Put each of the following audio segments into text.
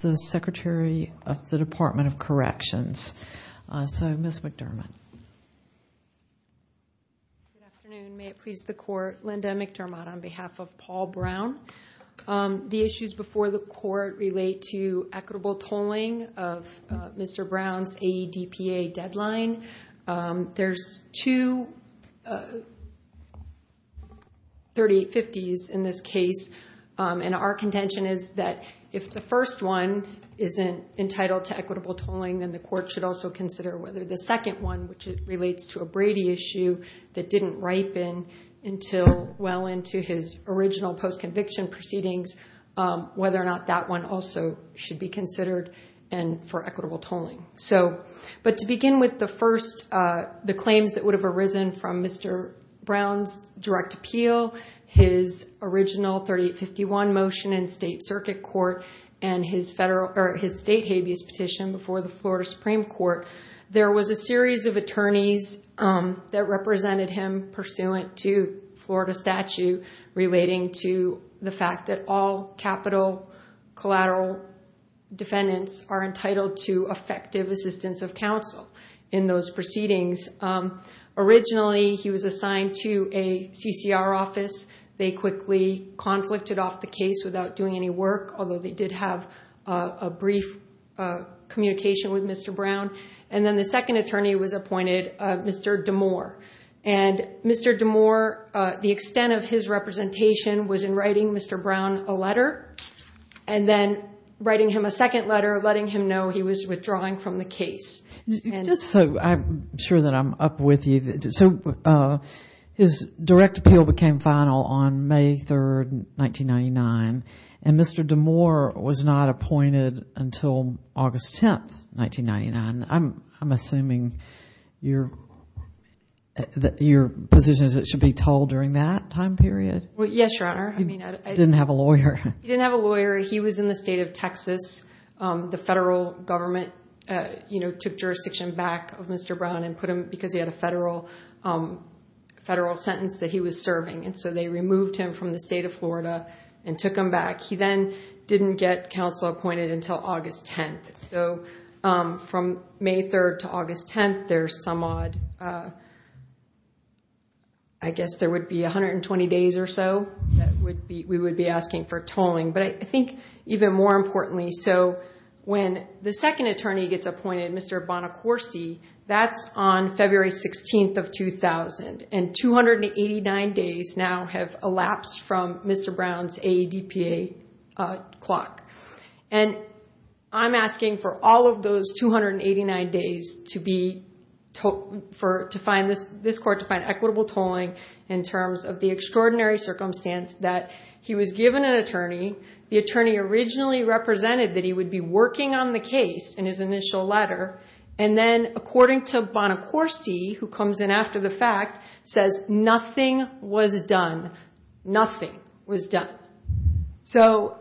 The Secretary of the Department of Corrections. So, Ms. McDermott. Good afternoon. May it please the Court, Linda McDermott on behalf of Paul Brown. The issues before the Court relate to equitable tolling of Mr. Brown's AEDPA deadline. There's two 3850s in this case, and our contention is that if the first one isn't entitled to equitable tolling, then the Court should also consider whether the second one, which relates to a Brady issue that didn't ripen until well into his original post-conviction proceedings, whether or not that one also should be considered for equitable tolling. But to begin with, the claims that have arisen from Mr. Brown's direct appeal, his original 3851 motion in State Circuit Court, and his state habeas petition before the Florida Supreme Court, there was a series of attorneys that represented him pursuant to Florida statute relating to the fact that all capital collateral defendants are entitled to effective assistance of counsel in those proceedings. Originally, he was assigned to a CCR office. They quickly conflicted off the case without doing any work, although they did have a brief communication with Mr. Brown. And then the second attorney was appointed, Mr. DeMoor. And Mr. DeMoor, the extent of his representation was in writing Mr. Brown a letter, and then writing him a second letter, letting him know he was withdrawing from the case. Just so I'm sure that I'm up with you, so his direct appeal became final on May 3rd, 1999, and Mr. DeMoor was not appointed until August 10th, 1999. I'm assuming your position is it should be tolled during that time period? Well, yes, Your Honor. He didn't have a lawyer. He didn't have a lawyer. He was in the state of Texas, the federal government took jurisdiction back of Mr. Brown because he had a federal sentence that he was serving. And so they removed him from the state of Florida and took him back. He then didn't get counsel appointed until August 10th. So from May 3rd to August 10th, there's some odd, I guess there would be 120 days or so we would be asking for tolling. But I think even more importantly, so when the second attorney gets appointed, Mr. Bonacorsi, that's on February 16th of 2000, and 289 days now have elapsed from Mr. Brown's AEDPA clock. And I'm asking for all of those 289 days to find this court to find equitable tolling in terms of the extraordinary circumstance that he was given an attorney. The attorney originally represented that he would be working on the case in his initial letter. And then according to Bonacorsi, who comes in after the fact, says nothing was done. Nothing was done. So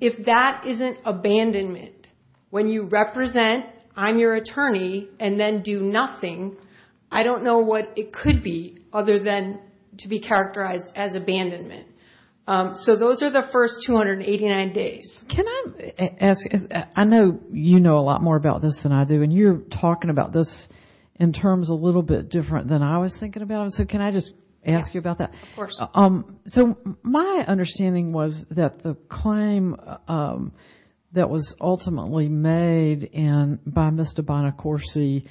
if that isn't abandonment, when you represent, I'm your attorney, and then do nothing, I don't know what it could be other than to be characterized as abandonment. So those are the first 289 days. Can I ask, I know you know a lot more about this than I do, and you're talking about this in terms a little bit different than I was thinking about. So can I just ask you about that? Of course. So my understanding was that the claim that was ultimately made by Mr. Bonacorsi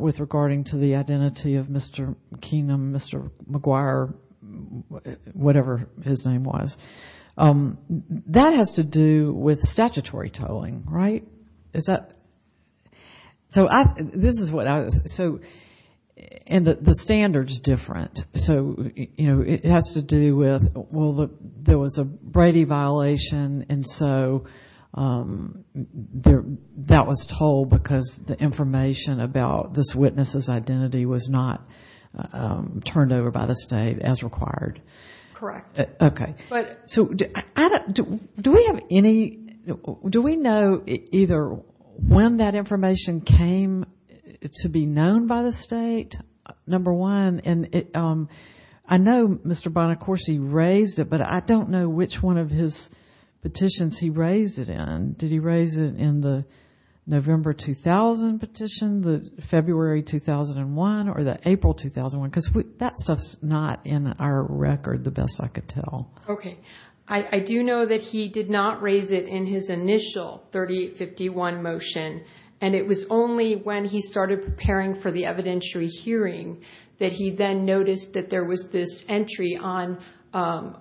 with regarding to the identity of Mr. Keenum, Mr. McGuire, whatever his name was, that has to do with statutory tolling, right? Is that? So this is what I was, so, and the standard's different. So, you know, it has to do with, well, there was a Brady violation, and so that was tolled because the information about this witness's identity was not turned over by the state as required. Correct. Okay. So do we have any, do we know either when that information came to be known by the state, number one? And I know Mr. Bonacorsi raised it, but I don't know which one of his petitions he raised it in. Did he raise it in the November 2000 petition, the February 2001, or the April 2001? Because that stuff's not in our record, the best I could tell. Okay. I do know that he did not raise it in his initial 3851 motion, and it was only when he started preparing for the evidentiary hearing that he then noticed that there was this entry on, I'm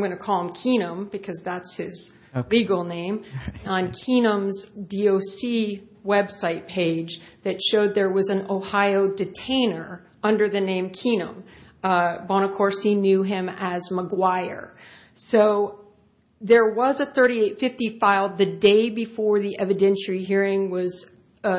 going to call him Keenum because that's his legal name, on Keenum's DOC website page that showed there was an Ohio detainer under the name Keenum. Bonacorsi knew him as McGuire. So there was a 3850 filed the day before the evidentiary hearing was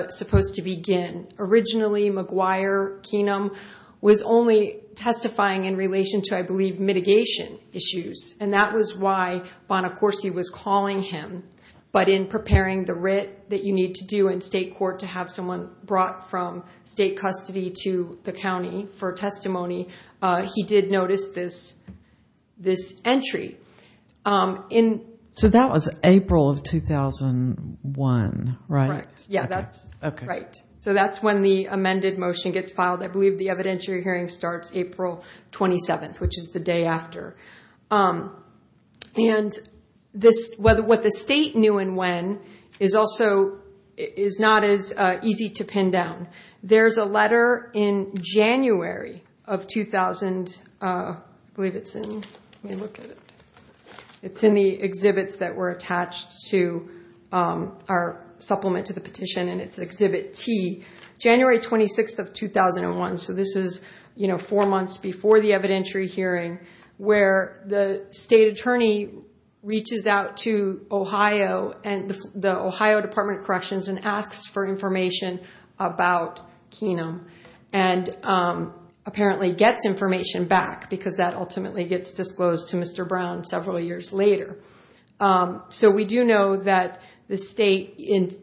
supposed to begin. Originally, McGuire, Keenum, was only testifying in relation to, I believe, mitigation issues, and that was why Bonacorsi was calling him. But in preparing the writ that you need to do in state court to have someone brought from state custody to the county for testimony, he did notice this entry. So that was April of 2001, right? Correct. Yeah, that's right. So that's when the amended motion gets filed. I believe the evidentiary hearing starts April 27th, which is the day after. And what the state knew and when is not as easy to pin down. There's a letter in January of 2000, I believe it's in, let me look at it, it's in the exhibits that were attached to our supplement to the petition and it's exhibit T, January 26th of 2001. So this is four months before the evidentiary hearing where the state attorney reaches out to Ohio and the Ohio Department of Corrections and asks for information about Keenum and apparently gets information back because that ultimately gets disclosed to Mr. Brown several years later. So we do know that in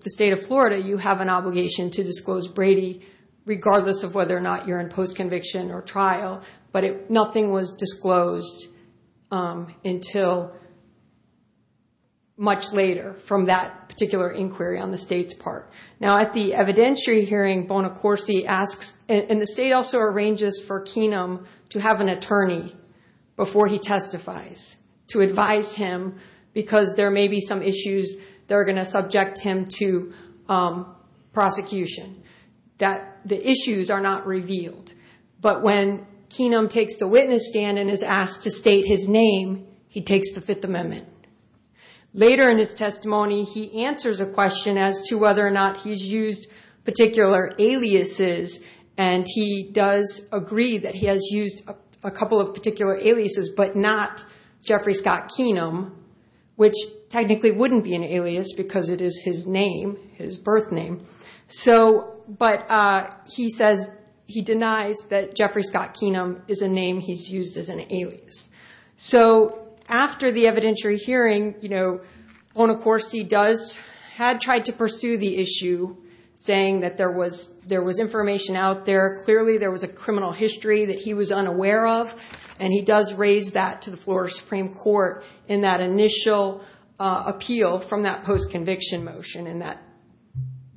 the state of Florida, you have an obligation to disclose Brady regardless of whether or not you're in post-conviction or trial, but nothing was disclosed until much later from that particular inquiry on the state's part. Now at the evidentiary hearing, Bonacorsi asks, and the state also arranges for Keenum to have an attorney before he testifies to advise him because there may be some issues that are going to subject him to prosecution, that the issues are not revealed. But when Keenum takes the witness stand and is asked to state his name, he takes the Fifth Amendment. Later in his testimony, he answers a question as to whether or not he's used particular aliases and he does agree that he has used a couple of particular aliases, but not Jeffrey Scott Keenum, which technically wouldn't be an alias because it is his name, his birth name. But he denies that Jeffrey Scott Keenum is a name he's used as an alias. So after the evidentiary hearing, Bonacorsi had tried to pursue the issue, saying that there was information out there, clearly there was a criminal history that he was unaware of, and he does raise that to the Florida Supreme Court in that initial appeal from that post-conviction motion.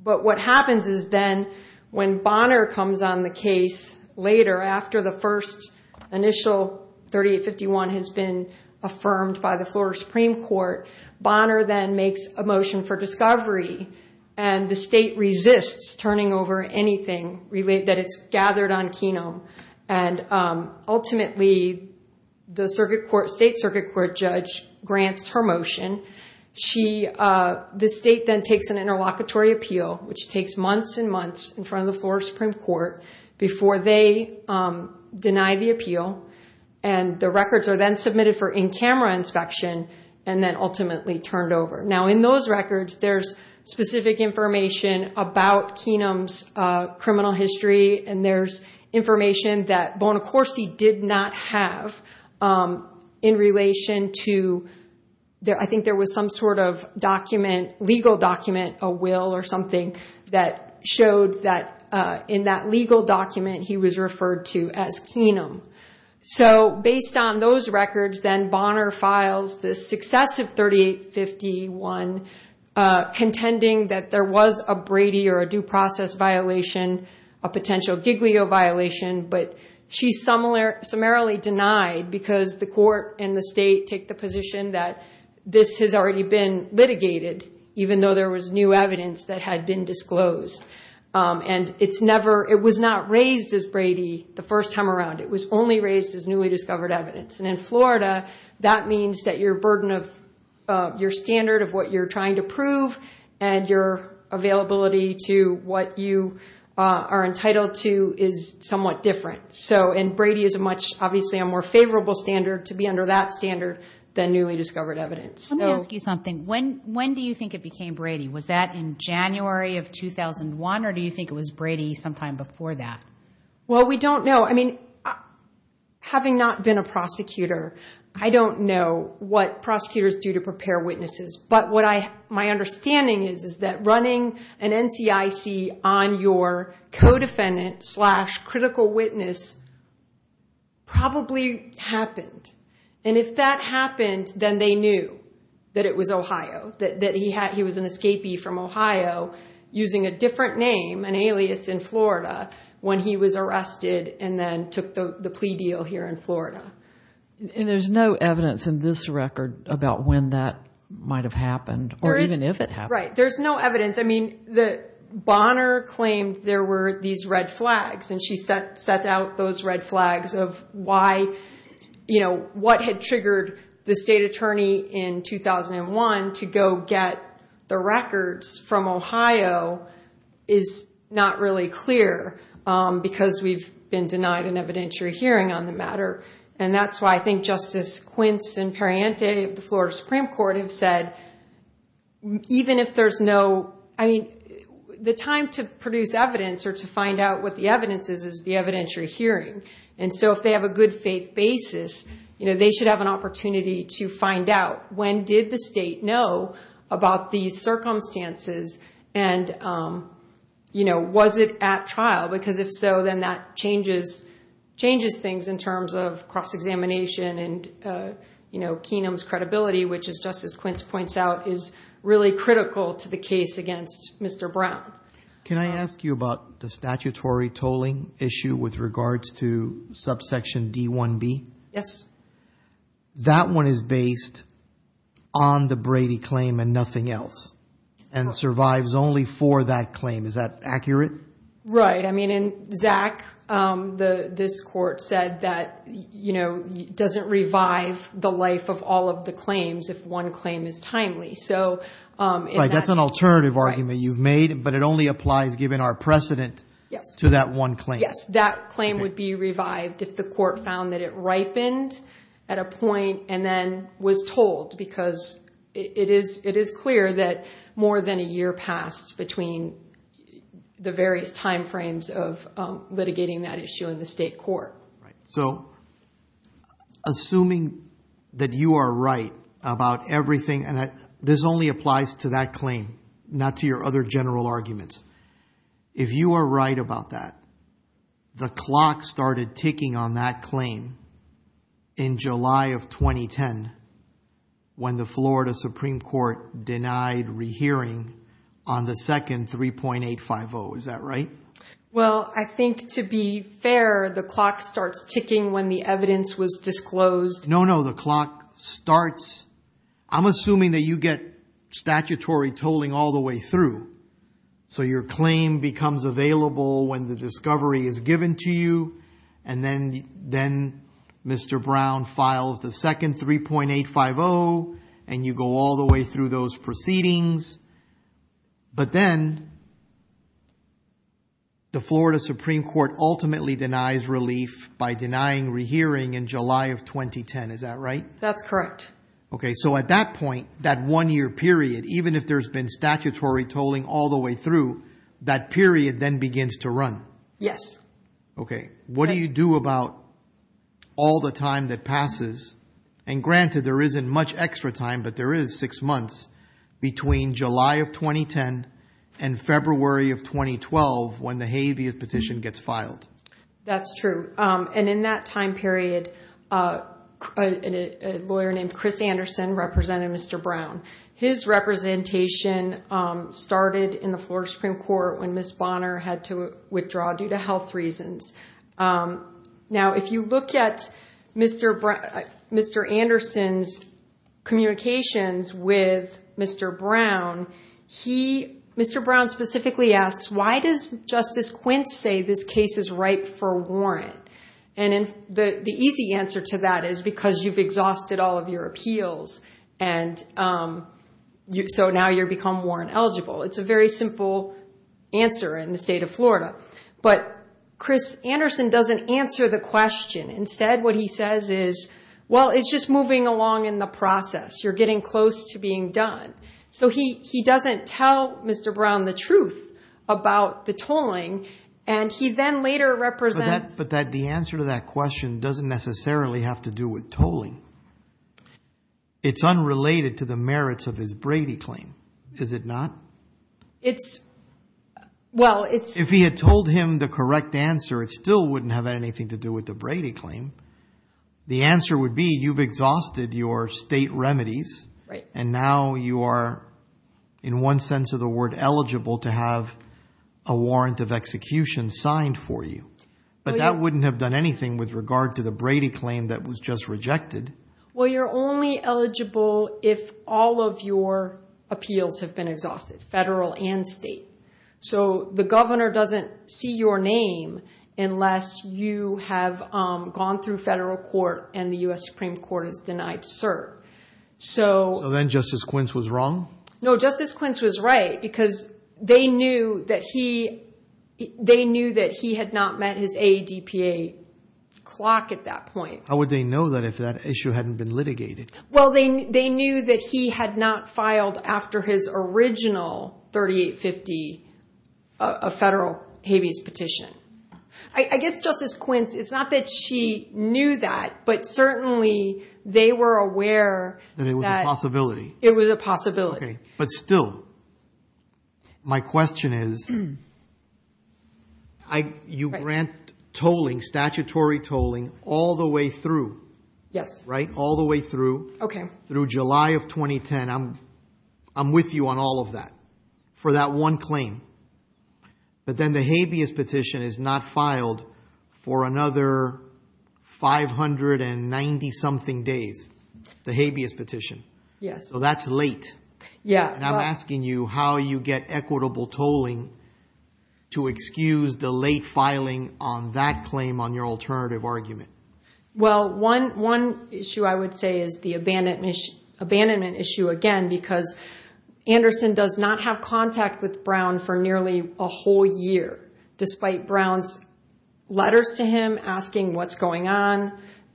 But what happens is then when Bonner comes on the case later, after the first initial 3851 has been affirmed by the Florida Supreme Court, Bonner then makes a motion for discovery and the state resists turning over anything that it's gathered on Keenum. Ultimately, the state circuit court judge grants her motion. The state then takes an interlocutory appeal, which takes months and months in front of the Florida Supreme Court before they deny the appeal. The records are then submitted for in-camera inspection and then ultimately turned over. Now in those records, there's specific information about Keenum's criminal history, and there's information that Bonacorsi did not have in relation to, I think there was some sort of document, legal document, a will or something that showed that in that legal document he was referred to as Keenum. So based on those records, then Bonner files this successive 3851 contending that there was a Brady or a due process violation, a potential Giglio violation, but she's summarily denied because the court and the state take the position that this has already been litigated, even though there was new evidence that had been disclosed. It was not raised as Brady the first time around. It was only raised as newly discovered evidence. In Florida, that means that your burden of your standard of what you're trying to prove and your availability to what you are entitled to is somewhat different. Brady is obviously a more favorable standard to be under that standard than newly discovered evidence. Let me ask you something. When do you think it became Brady? Was that in January of 2001, or do you think it was Brady sometime before that? Well, we don't know. I mean, having not been a prosecutor, I don't know what prosecutors do to prepare witnesses, but what my understanding is is that running an NCIC on your co-defendant slash critical witness probably happened. And if that happened, then they knew that it was Ohio, that he was an escapee from Ohio using a different name, an alias in Florida, when he was arrested and then took the plea deal here in Florida. And there's no evidence in this record about when that might have happened or even if it happened. Right. There's no evidence. I mean, Bonner claimed there were these red flags, and she the records from Ohio is not really clear because we've been denied an evidentiary hearing on the matter. And that's why I think Justice Quince and Perriente of the Florida Supreme Court have said, even if there's no... I mean, the time to produce evidence or to find out what the evidence is, is the evidentiary hearing. And so if they have a good faith basis, they should have an opportunity to find out when did the state know about these circumstances and was it at trial? Because if so, then that changes things in terms of cross-examination and Keenum's credibility, which is just as Quince points out, is really critical to the case against Mr. Brown. Can I ask you about the statutory tolling issue with regards to subsection D1B? Yes. That one is based on the Brady claim and nothing else and survives only for that claim. Is that accurate? Right. I mean, in Zach, this court said that it doesn't revive the life of all of the claims if one claim is timely. So... Right. That's an alternative argument you've made, but it only applies given our precedent to that one claim. Yes. That claim would be revived if the court found that it ripened at a point and then was told because it is clear that more than a year passed between the various timeframes of litigating that issue in the state court. Right. So assuming that you are right about everything and this only applies to that claim, not to your other general arguments. If you are right about that, the clock started ticking on that claim in July of 2010 when the Florida Supreme Court denied rehearing on the second 3.850. Is that right? Well, I think to be fair, the clock starts ticking when the evidence was disclosed. No, no. The clock starts. I'm assuming that you get statutory tolling all the way through. So your claim becomes available when the discovery is given to you. And then Mr. Brown files the second 3.850 and you go all the way through those proceedings. But then the Florida Supreme Court ultimately denies relief by denying rehearing in July of 2010. Is that right? That's correct. Okay. So at that point, that one year period, even if there's been statutory tolling all the way through, that period then begins to run. Yes. Okay. What do you do about all the time that passes? And granted, there isn't much extra time, but there is six months between July of 2010 and February of 2012 when the Habeas Petition gets filed. That's true. And in that time period, a lawyer named Chris Anderson represented Mr. Brown. His representation started in the Florida Supreme Court when Ms. Bonner had to withdraw due to health reasons. Now, if you look at Mr. Anderson's communications with Mr. Brown, he, Mr. Brown specifically asks, why does Justice Quint say this case is ripe for warrant? And the easy answer to that is because you've exhausted all of your appeals. So now you've become warrant eligible. It's a very simple answer in the state of Florida. But Chris Anderson doesn't answer the question. Instead, what he says is, well, it's just moving along in the process. You're getting close to being done. So he doesn't tell Mr. Brown the truth about the tolling. And he then later represents- But the answer to that question doesn't necessarily have to do with tolling. It's unrelated to the merits of his Brady claim, is it not? It's, well, it's- If he had told him the correct answer, it still wouldn't have anything to do with the Brady claim. The answer would be you've exhausted your state remedies. Right. And now you are, in one sense of the word, eligible to have a warrant of execution signed for you. But that wouldn't have done anything with regard to the Brady claim that was just rejected. Well, you're only eligible if all of your appeals have been exhausted, federal and state. So the governor doesn't see your name unless you have gone through federal court and the U.S. Supreme Court has denied cert. So- So then Justice Quince was wrong? No, Justice Quince was right because they knew that he had not met his ADPA clock at that point. How would they know that if that issue hadn't been litigated? Well, they knew that he had not filed after his original 3850 federal habeas petition. I guess Justice Quince, it's not that she knew that, but certainly they were aware that- That it was a possibility. It was a possibility. But still, my question is, you grant tolling, statutory tolling, all the way through. Yes. All the way through, through July of 2010. I'm with you on all of that for that one claim. But then the habeas petition is not filed for another 590 something days, the habeas petition. Yes. So that's late. Yeah. And I'm asking you how you get equitable tolling to excuse the late filing on that claim on your alternative argument. Well, one issue I would say is the abandonment issue again, because Anderson does not have contact with Brown for nearly a whole year, despite Brown's letters to him asking what's going on,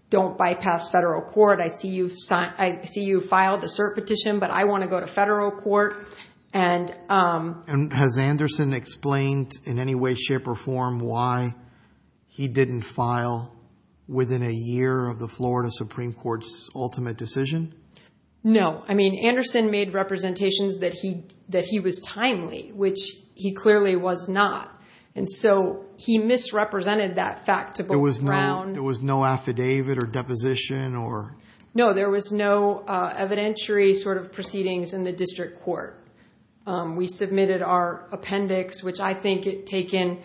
don't bypass federal court. I see you filed a cert petition, but I want to go to federal court. And- And has Anderson explained in any way, shape, or form why he didn't file within a year of the Florida Supreme Court's ultimate decision? No. I mean, Anderson made representations that he was timely, which he clearly was not. And so he misrepresented that fact to both Brown- There was no affidavit or deposition or- No, there was no evidentiary sort of proceedings in the district court. We submitted our appendix, which I think it taken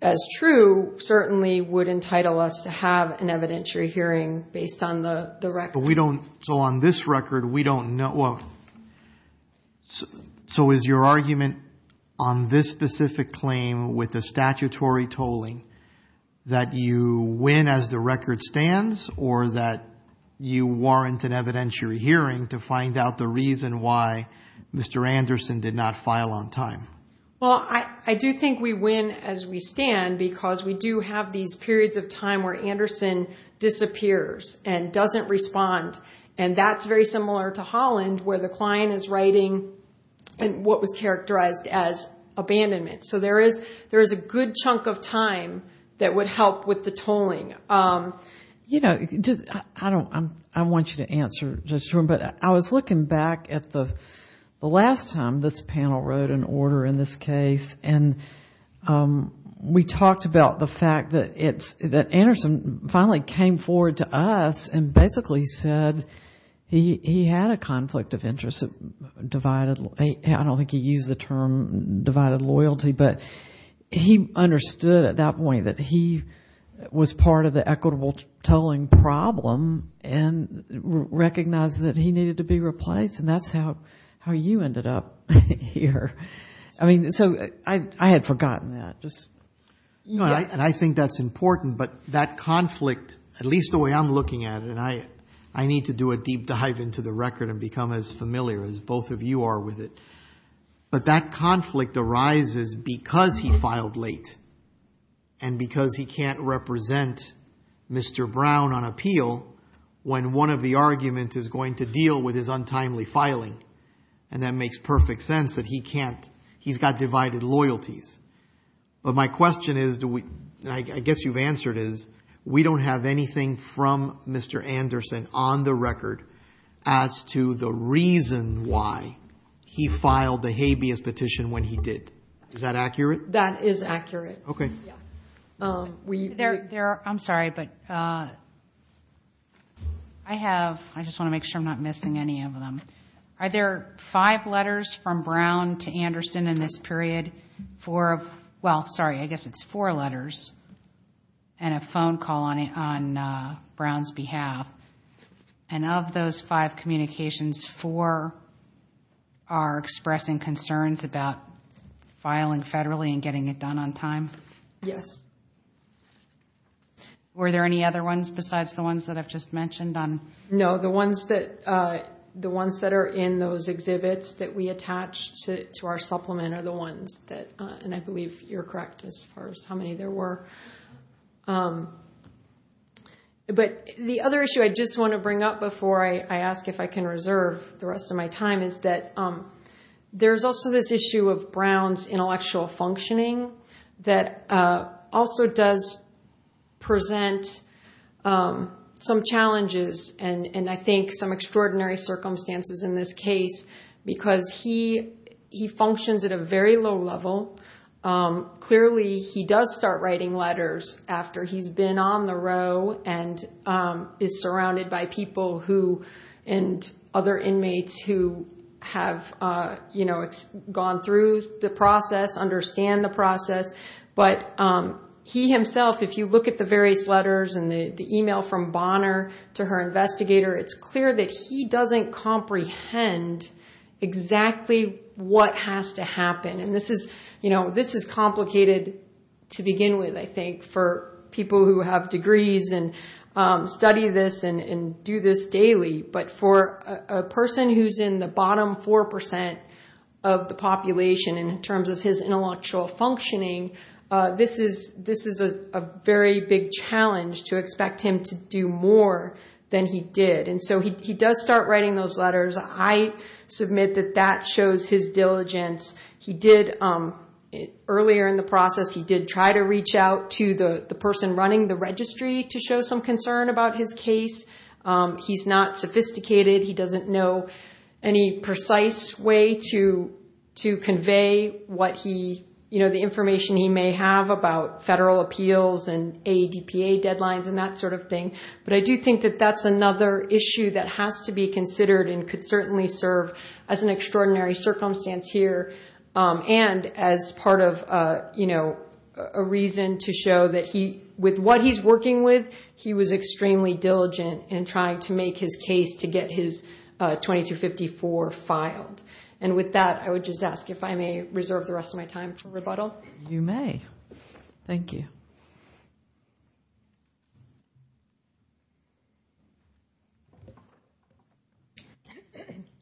as true, certainly would entitle us to have an evidentiary hearing based on the record. But we don't, so on this record, we don't know. So is your argument on this specific claim with the statutory tolling that you win as the record stands or that you warrant an evidentiary hearing to find out the reason why Mr. Anderson did not file on time? Well, I do think we win as we stand because we do have these periods of time where Anderson disappears and doesn't respond. And that's very similar to Holland where the client is writing what was characterized as abandonment. So there is a good chunk of time that would help with the tolling. You know, I want you to answer, but I was looking back at the last time this panel wrote an order in this case, and we talked about the fact that Anderson finally came forward to us and basically said he had a conflict of interest. I don't think he used the term divided loyalty, but he understood at that point that he was part of the equitable tolling problem and recognized that he needed to be replaced. And that's how you ended up here. I mean, so I had forgotten that. And I think that's important, but that conflict, at least the way I'm looking at it, I need to do a deep dive into the record and become as familiar as both of you are with it. But that conflict arises because he filed late and because he can't represent Mr. Brown on appeal when one of the arguments is going to deal with his untimely filing. And that makes perfect sense that he can't, he's got divided loyalties. But my question is, I guess you've answered is, we don't have anything from Mr. Anderson on the record as to the reason why he filed the habeas petition when he did. Is that accurate? That is accurate. Okay. I'm sorry, but I have, I just want to make sure I'm not missing any of them. Are there five letters from Brown to Anderson in this period for, well, sorry, I guess it's four letters and a phone call on Brown's behalf. And of those five communications, four are expressing concerns about filing federally and getting it done on time? Yes. Were there any other ones besides the ones that I've just mentioned on? No, the ones that are in those exhibits that we attach to our supplement are the ones that, and I believe you're correct as far as how many there were. But the other issue I just want to bring up before I ask if I can reserve the rest of my time is that there's also this issue of Brown's intellectual functioning that also does present some challenges. And I think some extraordinary circumstances in this case, because he functions at a very low level. Clearly he does start writing letters after he's been on the row and is surrounded by people who, and other inmates who have gone through the process, understand the process. But he himself, if you look at the various letters and the email from Bonner to her investigator, it's clear that he doesn't comprehend exactly what has to happen. And this is complicated to begin with, I think, for people who have degrees and study this and do this daily. But for a person who's in the bottom 4% of the population in terms of his intellectual functioning, this is a very big challenge to expect him to do more than he did. And so he does start writing those letters. I submit that that shows his diligence. He did, earlier in the process, he did try to reach out to the person running the registry to show some concern about his case. He's not sophisticated. He doesn't know any precise way to convey the information he may have about federal appeals and ADPA deadlines and that sort of thing. But I do think that that's another issue that has to be considered and could certainly serve as an extraordinary circumstance here. And as part of a reason to show that with what he's working with, he was extremely diligent in trying to make his case to get his 2254 filed. And with that, I would just ask if I may reserve the rest of my time for rebuttal. You may. Thank you.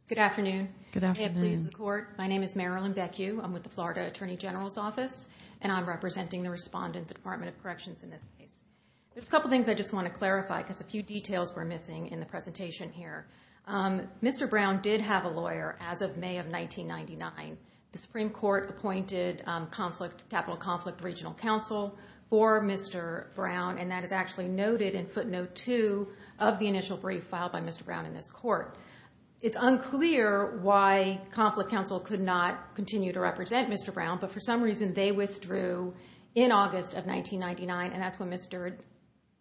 Good afternoon. Good afternoon. May it please the court. My name is Marilyn Beckue. I'm with the Florida Attorney General's Office, and I'm representing the respondent, the Department of Corrections, in this case. There's a couple things I just want to clarify because a few details were missing in the presentation here. Mr. Brown did have a lawyer as of May of 1999. The Supreme Court appointed Capital Conflict Regional Counsel for Mr. Brown, and that is actually noted in footnote two of the initial brief filed by Mr. Brown in this court. It's unclear why Conflict Counsel could not continue to represent Mr. Brown, but for some reason, they withdrew in August of 1999, and that's when Mr.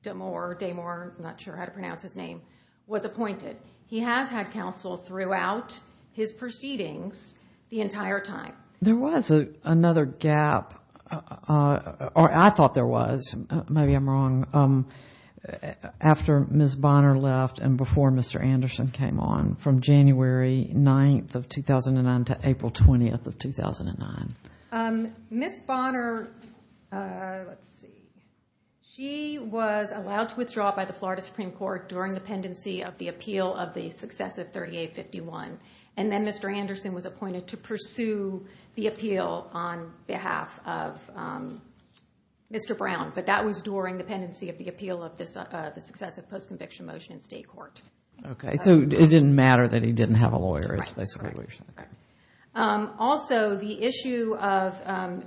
Damore, I'm not sure how to pronounce his name, was appointed. He has had counsel throughout his proceedings the entire time. There was another gap, or I thought there was, maybe I'm wrong, after Ms. Bonner left and before Mr. Anderson came on, from January 9th of 2009 to April 20th of 2009. Ms. Bonner, let's see, she was allowed to withdraw by the Florida Supreme Court during the pendency of the appeal of the successive 3851, and then Mr. Anderson was appointed to pursue the appeal on behalf of Mr. Brown, but that was during the pendency of the appeal of the successive post-conviction motion in state court. Okay, so it didn't matter that he didn't have a lawyer is basically what you're saying. Correct. Also, the issue of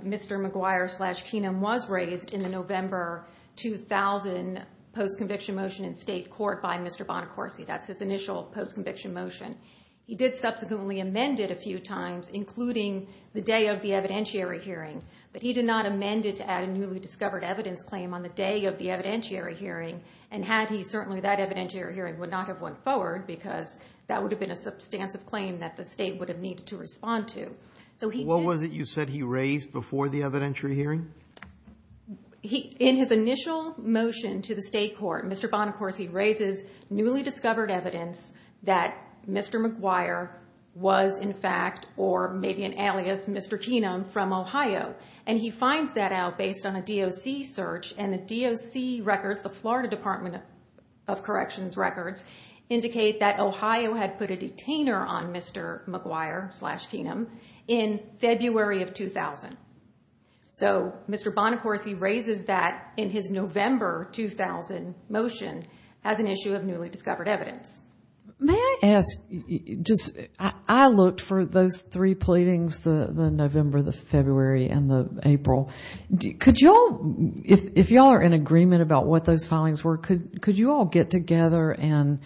Mr. McGuire slash Keenum was raised in the November 2000 post-conviction motion in state court by Mr. Bonacorsi. That's his initial post-conviction motion. He did subsequently amend it a few times, including the day of the evidentiary hearing, but he did not amend it to add a newly discovered evidence claim on the day of the evidentiary hearing, and had he, certainly that evidentiary hearing would not have went forward because that would have been a substantive claim that the state would have needed to respond to. What was it you said he raised before the evidentiary hearing? In his initial motion to the state court, Mr. Bonacorsi raises newly discovered evidence that Mr. McGuire was in fact, or maybe an alias, Mr. Keenum from Ohio, and he finds that out based on a DOC search, and the DOC records, the Florida Department of Corrections records, indicate that Ohio had put a detainer on Mr. McGuire slash Keenum in February of 2000. Mr. Bonacorsi raises that in his November 2000 motion as an issue of newly discovered evidence. May I ask, I looked for those three pleadings, the November, the February, and the April. Could you all, if you all are in agreement about what those filings were, could you all get together and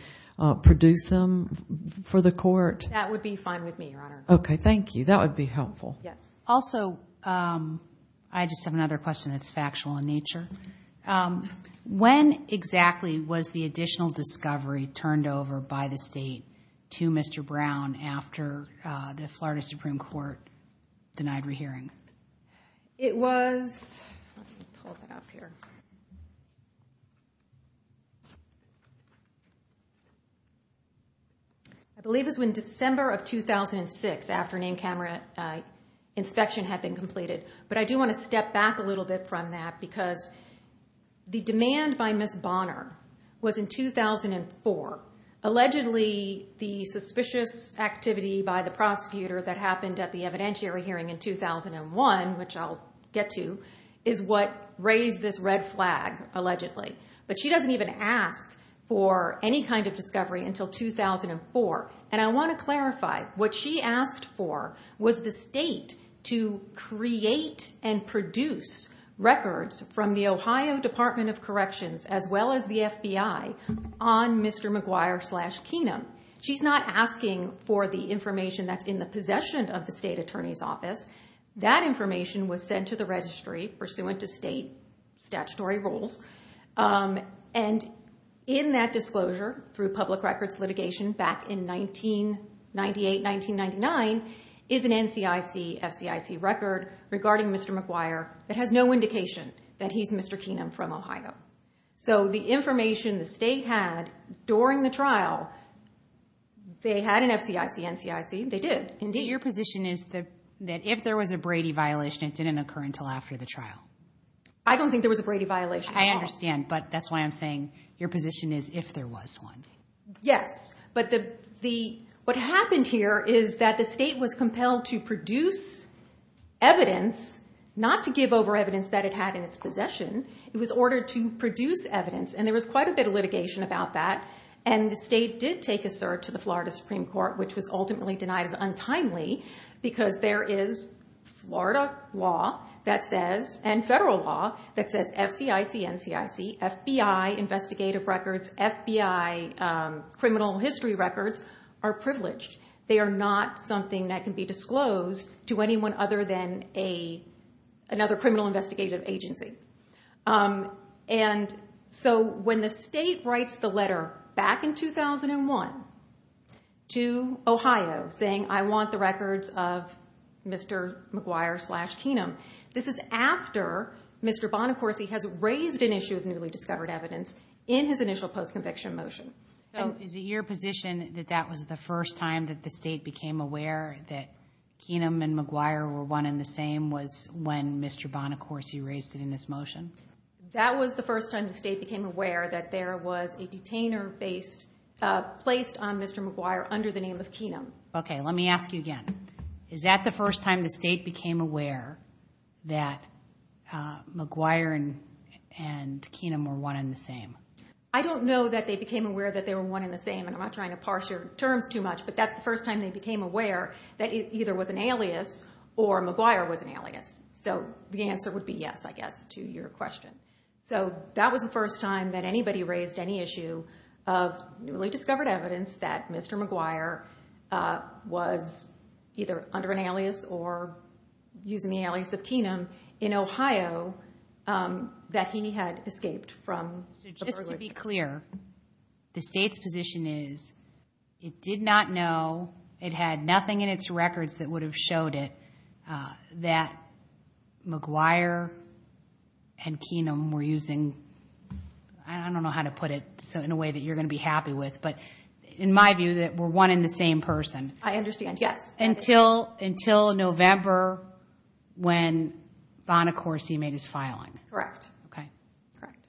produce them for the court? That would be fine with me, Your Honor. Okay, thank you. That would be helpful. Yes. Also, I just have another question that's factual in nature. When exactly was the additional discovery turned over by the state to Mr. Brown after the Florida Supreme Court denied rehearing? It was, let me pull that up here. I believe it was in December of 2006 after name camera inspection had been completed, but I do want to step back a little bit from that because the demand by Ms. Bonner was in 2004. Allegedly, the suspicious activity by the prosecutor that happened at the evidentiary hearing in 2001, which I'll get to, is what raised this red flag, allegedly. She doesn't even ask for any kind of discovery until 2004. I want to clarify, what she asked for was the state to create and produce records from the Ohio Department of Corrections as well as the FBI on Mr. McGuire slash Keenum. She's not asking for the information that's in the possession of the state attorney's office. That information was sent to the registry pursuant to state statutory rules. And in that disclosure through public records litigation back in 1998, 1999 is an NCIC-FCIC record regarding Mr. McGuire that has no indication that he's Mr. Keenum from Ohio. The information the state had during the trial, they had an FCIC-NCIC, they did. So your position is that if there was a Brady violation, it didn't occur until after the trial? I don't think there was a Brady violation at all. I understand, but that's why I'm saying your position is if there was one. Yes, but what happened here is that the state was compelled to produce evidence, not to give over evidence that it had in its possession, it was ordered to produce evidence. And there was quite a bit of litigation about that. And the state did take a cert to the Florida Supreme Court, which was ultimately denied as FBI investigative records, FBI criminal history records are privileged. They are not something that can be disclosed to anyone other than another criminal investigative agency. And so when the state writes the letter back in 2001 to Ohio saying, I want the records of Mr. McGuire slash Keenum. This is after Mr. Bonacorsi has raised an issue of newly discovered evidence in his initial post-conviction motion. So is it your position that that was the first time that the state became aware that Keenum and McGuire were one in the same was when Mr. Bonacorsi raised it in this motion? That was the first time the state became aware that there was a detainer based, placed on Mr. McGuire under the name of Keenum. Okay, let me ask you again. Is that the first time the state became aware that McGuire and Keenum were one in the same? I don't know that they became aware that they were one in the same, and I'm not trying to parse your terms too much, but that's the first time they became aware that it either was an alias or McGuire was an alias. So the answer would be yes, I guess, to your question. So that was the first time that anybody raised any issue of newly discovered evidence that either under an alias or using the alias of Keenum in Ohio that he had escaped from the burglary? Just to be clear, the state's position is it did not know, it had nothing in its records that would have showed it that McGuire and Keenum were using, I don't know how to put it in a way that you're going to be happy with, but in my view that we're one in the same person. I understand, yes. Until November when Bonacorsi made his filing? Correct. Okay, correct.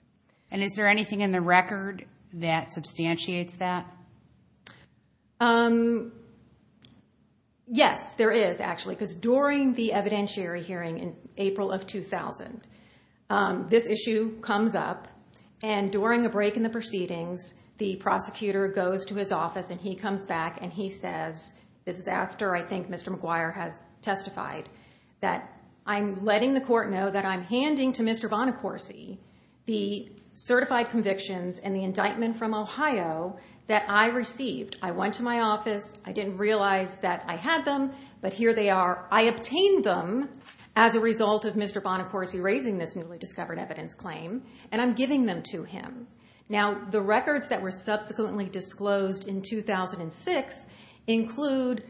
And is there anything in the record that substantiates that? Yes, there is actually, because during the evidentiary hearing in April of 2000, this issue comes up and during a break in the proceedings, the prosecutor goes to his office and he comes back and he says, this is after I think Mr. McGuire has testified, that I'm letting the court know that I'm handing to Mr. Bonacorsi the certified convictions and the indictment from Ohio that I received. I went to my office, I didn't realize that I had them, but here they are. I obtained them as a result of Mr. Bonacorsi raising this newly discovered evidence claim, and I'm giving them to him. Now, the records that were subsequently disclosed in 2006 include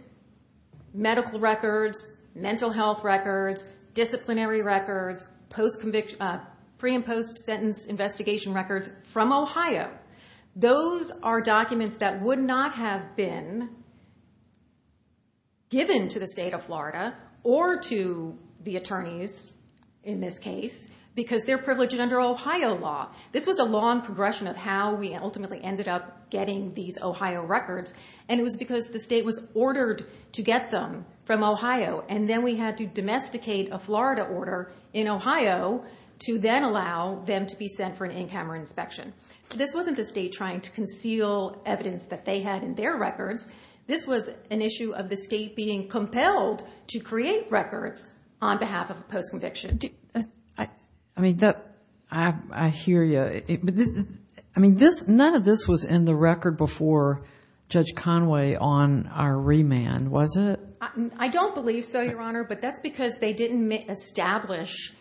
medical records, mental health records, disciplinary records, pre and post-sentence investigation records from Ohio. Those are documents that would not have been given to the state of Florida or to the attorneys in this case, because they're privileged under Ohio law. This was a long progression of how we ultimately ended up getting these Ohio records, and it was because the state was ordered to get them from Ohio, and then we had to domesticate a Florida order in Ohio to then allow them to be sent for an in-camera inspection. This wasn't the state trying to conceal evidence that they had in their records. This was an issue of the state being compelled to create records on behalf of a post-conviction. I mean, I hear you. I mean, none of this was in the record before Judge Conway on our remand, was it? I don't believe so, Your Honor, but that's because they didn't establish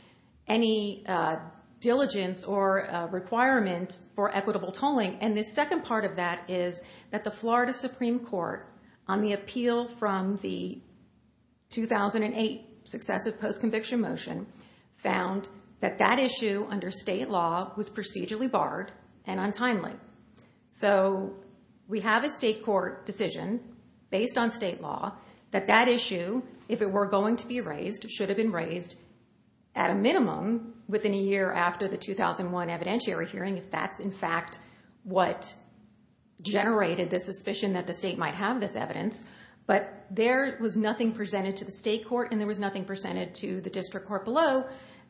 any diligence or requirement for equitable tolling, and the second part of that is that the Florida found that that issue under state law was procedurally barred and untimely. So we have a state court decision based on state law that that issue, if it were going to be raised, should have been raised at a minimum within a year after the 2001 evidentiary hearing, if that's in fact what generated the suspicion that the state might have this evidence. But there was nothing presented to the state court, and there was nothing presented to the district court below,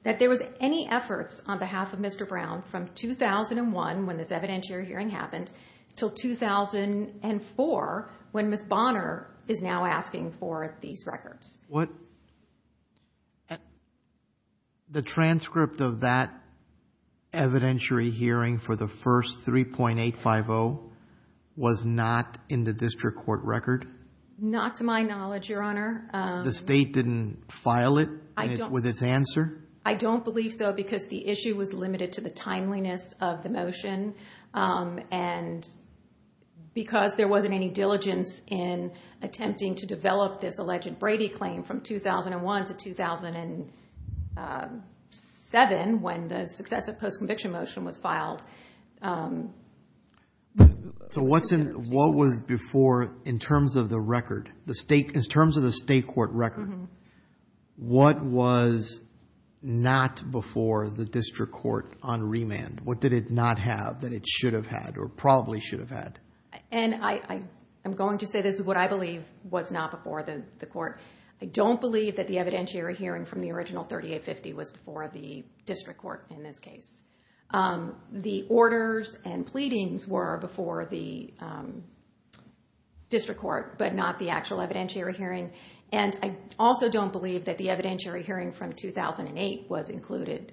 that there was any efforts on behalf of Mr. Brown from 2001, when this evidentiary hearing happened, till 2004, when Ms. Bonner is now asking for these records. The transcript of that evidentiary hearing for the first 3.850 was not in the district court record? Not to my knowledge, Your Honor. The state didn't file it? With its answer? I don't believe so, because the issue was limited to the timeliness of the motion, and because there wasn't any diligence in attempting to develop this alleged Brady claim from 2001 to 2007, when the successive post-conviction motion was filed. So what was before, in terms of the record, in terms of the state court record, what was not before the district court on remand? What did it not have that it should have had, or probably should have had? And I'm going to say this is what I believe was not before the court. I don't believe that the evidentiary hearing from the original 3.850 was before the district court in this case. The orders and pleadings were before the district court, but not the actual evidentiary hearing. And I also don't believe that the evidentiary hearing from 2008 was included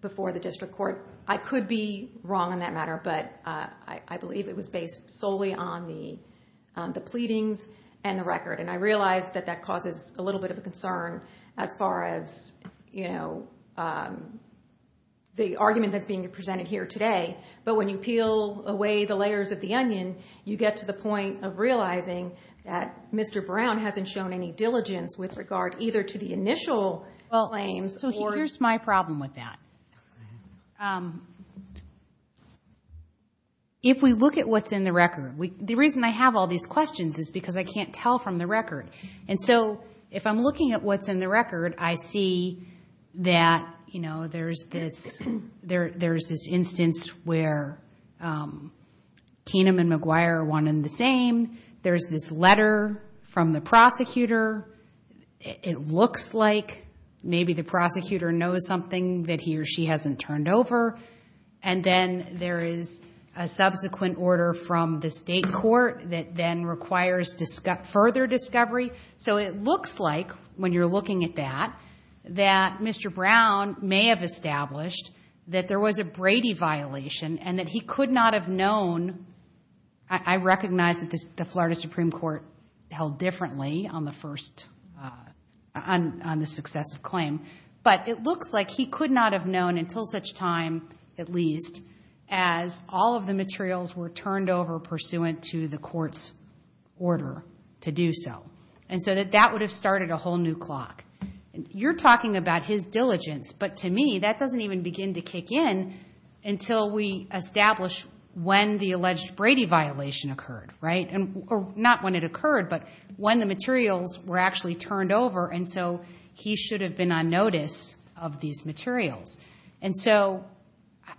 before the district court. I could be wrong on that matter, but I believe it was based solely on the pleadings and the record. And I realize that that causes a little bit of a concern as far as, you know, the argument that's being presented here today. But when you peel away the layers of the onion, you get to the point of realizing that Mr. Brown hasn't shown any diligence with regard either to the initial claims. So here's my problem with that. If we look at what's in the record, the reason I have all these questions is because I can't tell from the record. And so if I'm looking at what's in the record, I see that, you know, there's this instance where Keenum and McGuire are one and the same. There's this letter from the prosecutor. It looks like maybe the prosecutor knows something that he or she hasn't turned over. And then there is a subsequent order from the state court that then requires further discovery. So it looks like when you're looking at that, that Mr. Brown may have established that there was a Brady violation and that he could not have known. I recognize that the Florida Supreme Court held differently on the first, on the successive claim. But it looks like he could not have known until such time, at least, as all of the materials were turned over pursuant to the court's order to do so. And so that that would have started a whole new clock. You're talking about his diligence, but to me, that doesn't even begin to kick in until we establish when the alleged Brady violation occurred, right? And not when it occurred, but when the materials were actually turned over. And so he should have been on notice of these materials. And so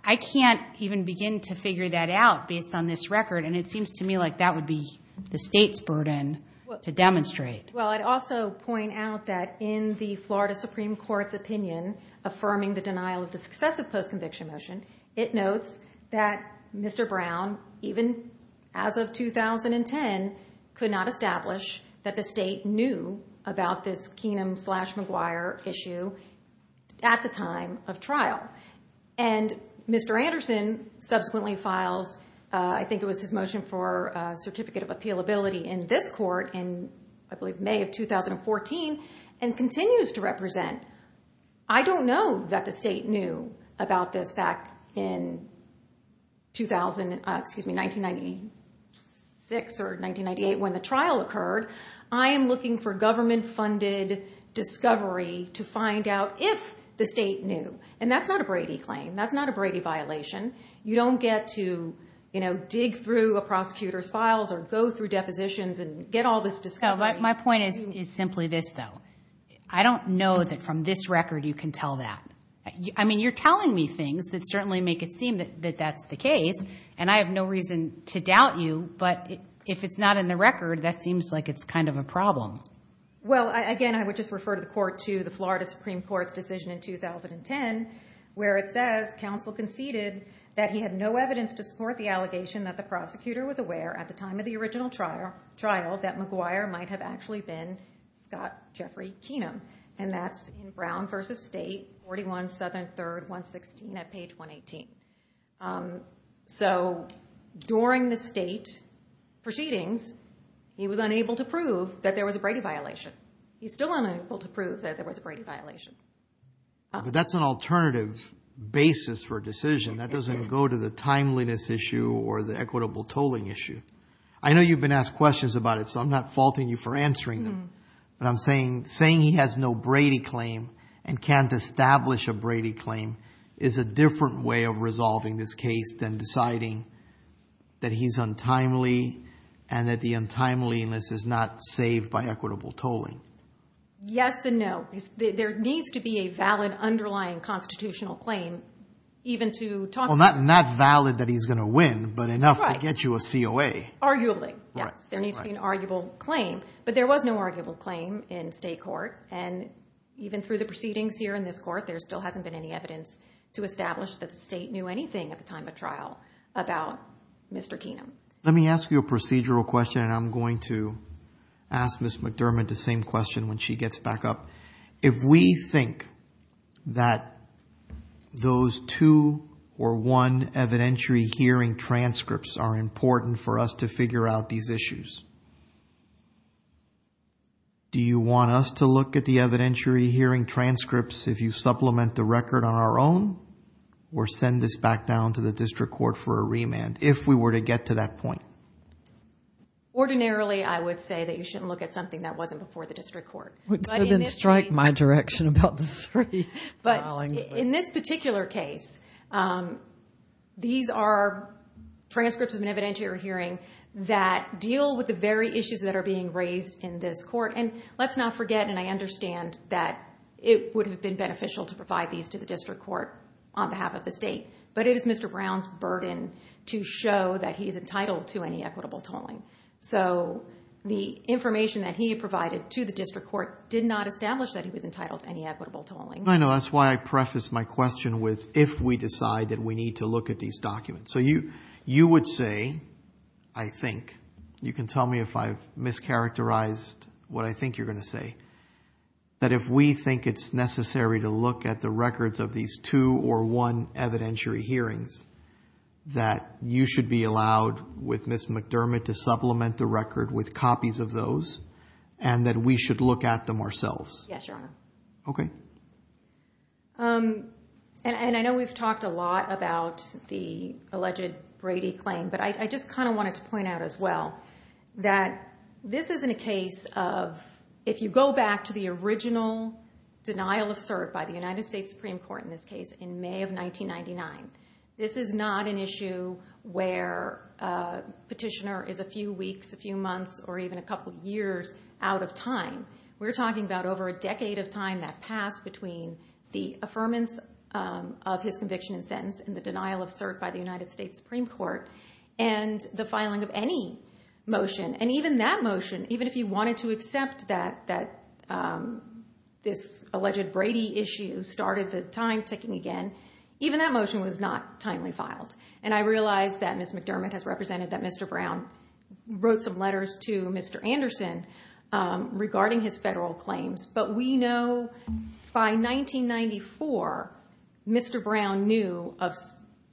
I can't even begin to figure that out based on this record. And it seems to me like that would be the state's burden to demonstrate. Well, I'd also point out that in the Florida Supreme Court's opinion, affirming the denial of the successive post-conviction motion, it notes that Mr. Brown, even as of 2010, could not establish that the state knew about this Keenum-slash-McGuire issue at the time of trial. And Mr. Anderson subsequently files, I think it was his motion for a certificate of appealability in this court in, I believe, May of 2014, and continues to represent. I don't know that the state knew about this back in 1996 or 1998 when the trial occurred. I am looking for government-funded discovery to find out if the state knew. And that's not a Brady claim. That's not a Brady violation. You don't get to dig through a prosecutor's files or go through depositions and get all this discovery. My point is simply this, though. I don't know that from this record you can tell that. I mean, you're telling me things that certainly make it seem that that's the case. And I have no reason to doubt you. But if it's not in the record, that seems like it's kind of a problem. Well, again, I would just refer to the court to the Florida Supreme Court's decision in 2010, where it says counsel conceded that he had no evidence to support the allegation that the prosecutor was aware at the time of the original trial that McGuire might have actually been Scott Jeffrey Keenum. And that's in Brown v. State, 41 Southern 3rd, 116 at page 118. So during the state proceedings, he was unable to prove that there was a Brady violation. He's still unable to prove that there was a Brady violation. But that's an alternative basis for a decision. That doesn't go to the timeliness issue or the equitable tolling issue. I know you've been asked questions about it. So I'm not faulting you for answering them. But I'm saying saying he has no Brady claim and can't establish a Brady claim is a different way of resolving this case than deciding that he's untimely and that the untimeliness is not saved by equitable tolling. Yes and no. There needs to be a valid underlying constitutional claim even to talk. Well, not valid that he's going to win, but enough to get you a COA. Arguably, yes. There needs to be an arguable claim. But there was no arguable claim in state court. And even through the proceedings here in this court, there still hasn't been any evidence to establish that the state knew anything at the time of trial about Mr. Keenum. Let me ask you a procedural question. And I'm going to ask Ms. McDermott the same question when she gets back up. If we think that those two or one evidentiary hearing transcripts are important for us to figure out these issues, do you want us to look at the evidentiary hearing transcripts if you supplement the record on our own? Or send this back down to the district court for a remand if we were to get to that point? Ordinarily, I would say that you shouldn't look at something that wasn't before the district court. So then strike my direction about the three filings. In this particular case, these are transcripts of an evidentiary hearing that deal with the very issues that are being raised in this court. And let's not forget, and I understand that it would have been beneficial to provide these to the district court on behalf of the state. But it is Mr. Brown's burden to show that he's entitled to any equitable tolling. So the information that he provided to the district court did not establish that he was entitled to any equitable tolling. I know, that's why I prefaced my question with if we decide that we need to look at these documents. So you would say, I think, you can tell me if I've mischaracterized what I think you're going to say, that if we think it's necessary to look at the records of these two or one evidentiary hearings, that you should be allowed, with Ms. McDermott, to supplement the record with copies of those and that we should look at them ourselves? Yes, your honor. Okay. And I know we've talked a lot about the alleged Brady claim, but I just kind of wanted to point out as well that this isn't a case of, if you go back to the original denial of cert by the United States Supreme Court in this case in May of 1999, this is not an issue where a petitioner is a few weeks, a few months, or even a couple years out of time. We're talking about over a decade of time that passed between the affirmance of his conviction and sentence and the denial of cert by the United States Supreme Court and the filing of any motion. And even that motion, even if you wanted to accept that this alleged Brady issue started the time ticking again, even that motion was not timely filed. And I realized that Ms. McDermott has represented that Mr. Brown wrote some letters to Mr. Anderson regarding his federal claims. But we know by 1994, Mr. Brown knew of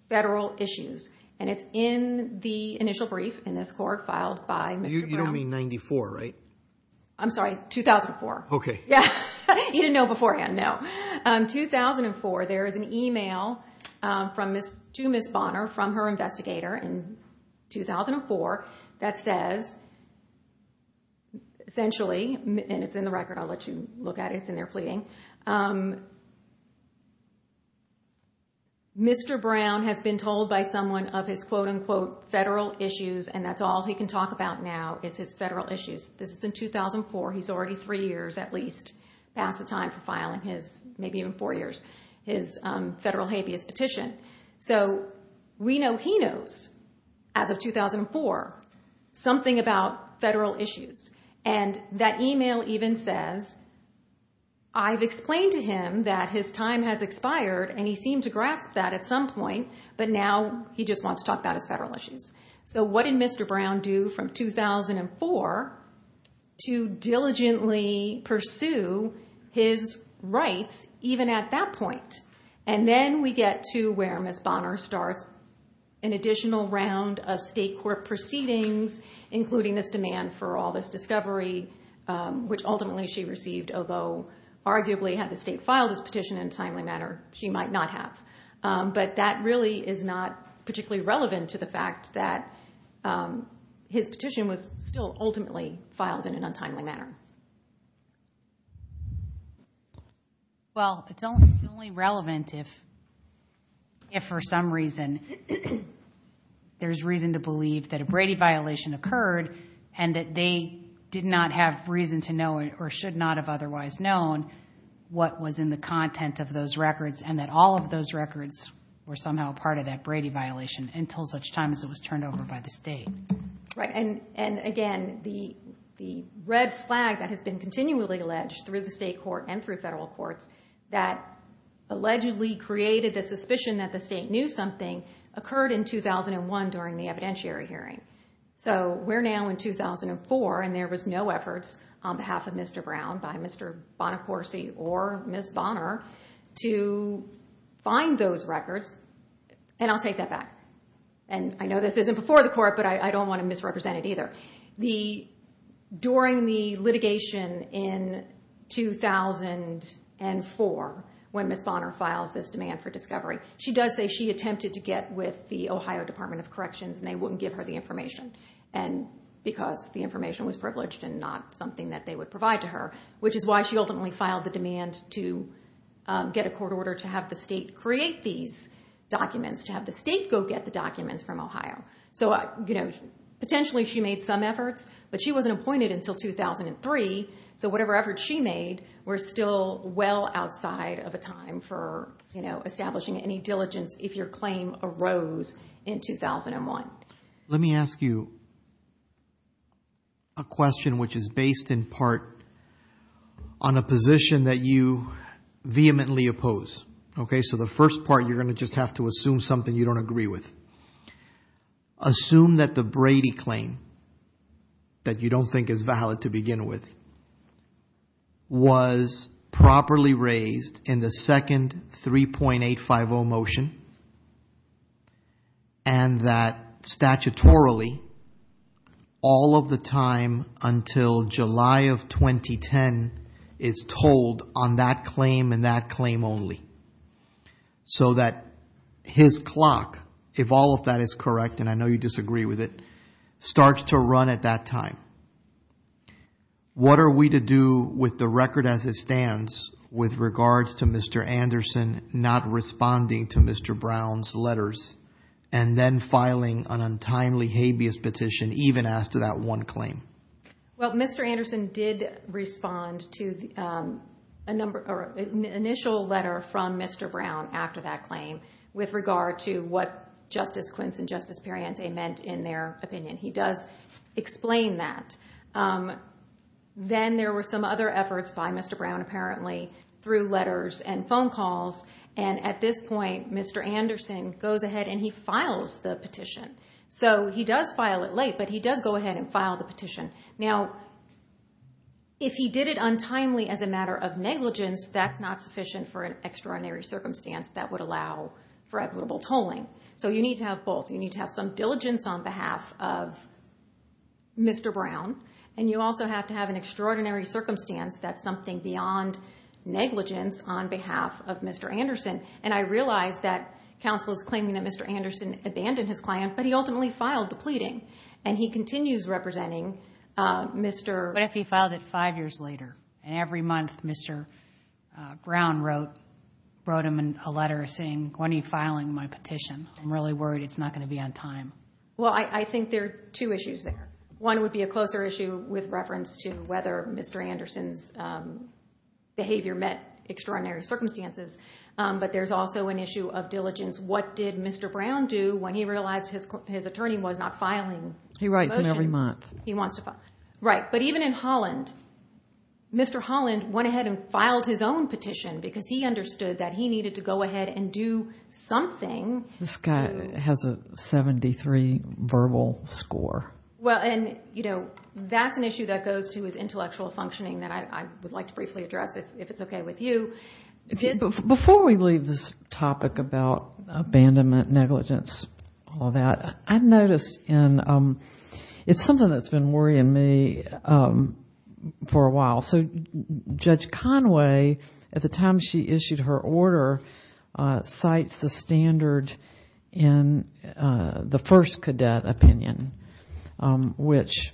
federal issues and it's in the initial brief in this court filed by Mr. Brown. You don't mean 94, right? I'm sorry, 2004. Okay. Yeah, he didn't know beforehand, no. 2004, there is an email to Ms. Bonner from her investigator in 2004 that says essentially, and it's in the record, I'll let you look at it. It's in there pleading. Mr. Brown has been told by someone of his federal issues and that's all he can talk about now is his federal issues. This is in 2004. He's already three years at least past the time for filing his, maybe even four years, his federal habeas petition. So we know he knows, as of 2004, something about federal issues. And that email even says, I've explained to him that his time has expired and he seemed to grasp that at some point, but now he just wants to talk about his federal issues. So what did Mr. Brown do from 2004 to diligently pursue his rights even at that point? And then we get to where Ms. Bonner starts an additional round of state court proceedings, including this demand for all this discovery, which ultimately she received, although arguably had the state file this petition in a timely manner, she might not have. But that really is not particularly relevant to the fact that his petition was still ultimately filed in an untimely manner. Well, it's only relevant if, if for some reason there's reason to believe that a Brady violation occurred and that they did not have reason to know or should not have otherwise known what was in the content of those records and that all of those records were somehow a part of that Brady violation until such time as it was turned over by the state. Right, and again, the red flag that has been continually alleged through the state court and through federal courts that allegedly created the suspicion that the state knew something occurred in 2001 during the evidentiary hearing. So we're now in 2004, and there was no efforts on behalf of Mr. Brown by Mr. Bonacorsi or Ms. Bonner to find those records. And I'll take that back. And I know this isn't before the court, but I don't want to misrepresent it either. During the litigation in 2004, when Ms. Bonner files this demand for discovery, she does say she attempted to get with the Ohio Department of Corrections and they wouldn't give her the information. And because the information was privileged and not something that they would provide to her, which is why she ultimately filed the demand to get a court order to have the state create these documents, to have the state go get the documents from Ohio. So, you know, potentially she made some efforts, but she wasn't appointed until 2003. So whatever efforts she made were still well outside of a time for, you know, establishing any diligence if your claim arose in 2001. Let me ask you a question, which is based in part on a position that you vehemently oppose, okay? So the first part, you're going to just have to assume something you don't agree with. Assume that the Brady claim that you don't think is valid to begin with was properly raised in the second 3.850 motion and that statutorily, all of the time until July of 2010 is told on that claim and that claim only. So that his clock, if all of that is correct, and I know you disagree with it, starts to run at that time. What are we to do with the record as it stands with regards to Mr. Anderson not responding to Mr. Brown's letters and then filing an untimely habeas petition even as to that one claim? Well, Mr. Anderson did respond to an initial letter from Mr. Brown after that claim with regard to what Justice Quince and Justice Perriente meant in their opinion. He does explain that. Then there were some other efforts by Mr. Brown apparently through letters and phone calls. And at this point, Mr. Anderson goes ahead and he files the petition. So he does file it late, but he does go ahead and file the petition. Now, if he did it untimely as a matter of negligence, that's not sufficient for an extraordinary circumstance that would allow for equitable tolling. So you need to have both. You need to have some diligence on behalf of Mr. Brown, and you also have to have an extraordinary circumstance that's something beyond negligence on behalf of Mr. Anderson. And I realize that counsel is claiming that Mr. Anderson abandoned his client, but he ultimately filed the pleading and he continues representing Mr. What if he filed it five years later and every month Mr. Brown wrote him a letter saying, when are you filing my petition? I'm really worried it's not going to be on time. Well, I think there are two issues there. One would be a closer issue with reference to whether Mr. Anderson's behavior met extraordinary circumstances, but there's also an issue of diligence. What did Mr. Brown do when he realized his attorney was not filing? He writes them every month. He wants to file. Right. But even in Holland, Mr. Holland went ahead and filed his own petition because he understood that he needed to go ahead and do something. This guy has a 73 verbal score. Well, and that's an issue that goes to his intellectual functioning that I would like to briefly address if it's OK with you. Before we leave this topic about abandonment, negligence, all of that, I've noticed it's something that's been worrying me for a while. So Judge Conway, at the time she issued her order, cites the standard in the first cadet opinion, which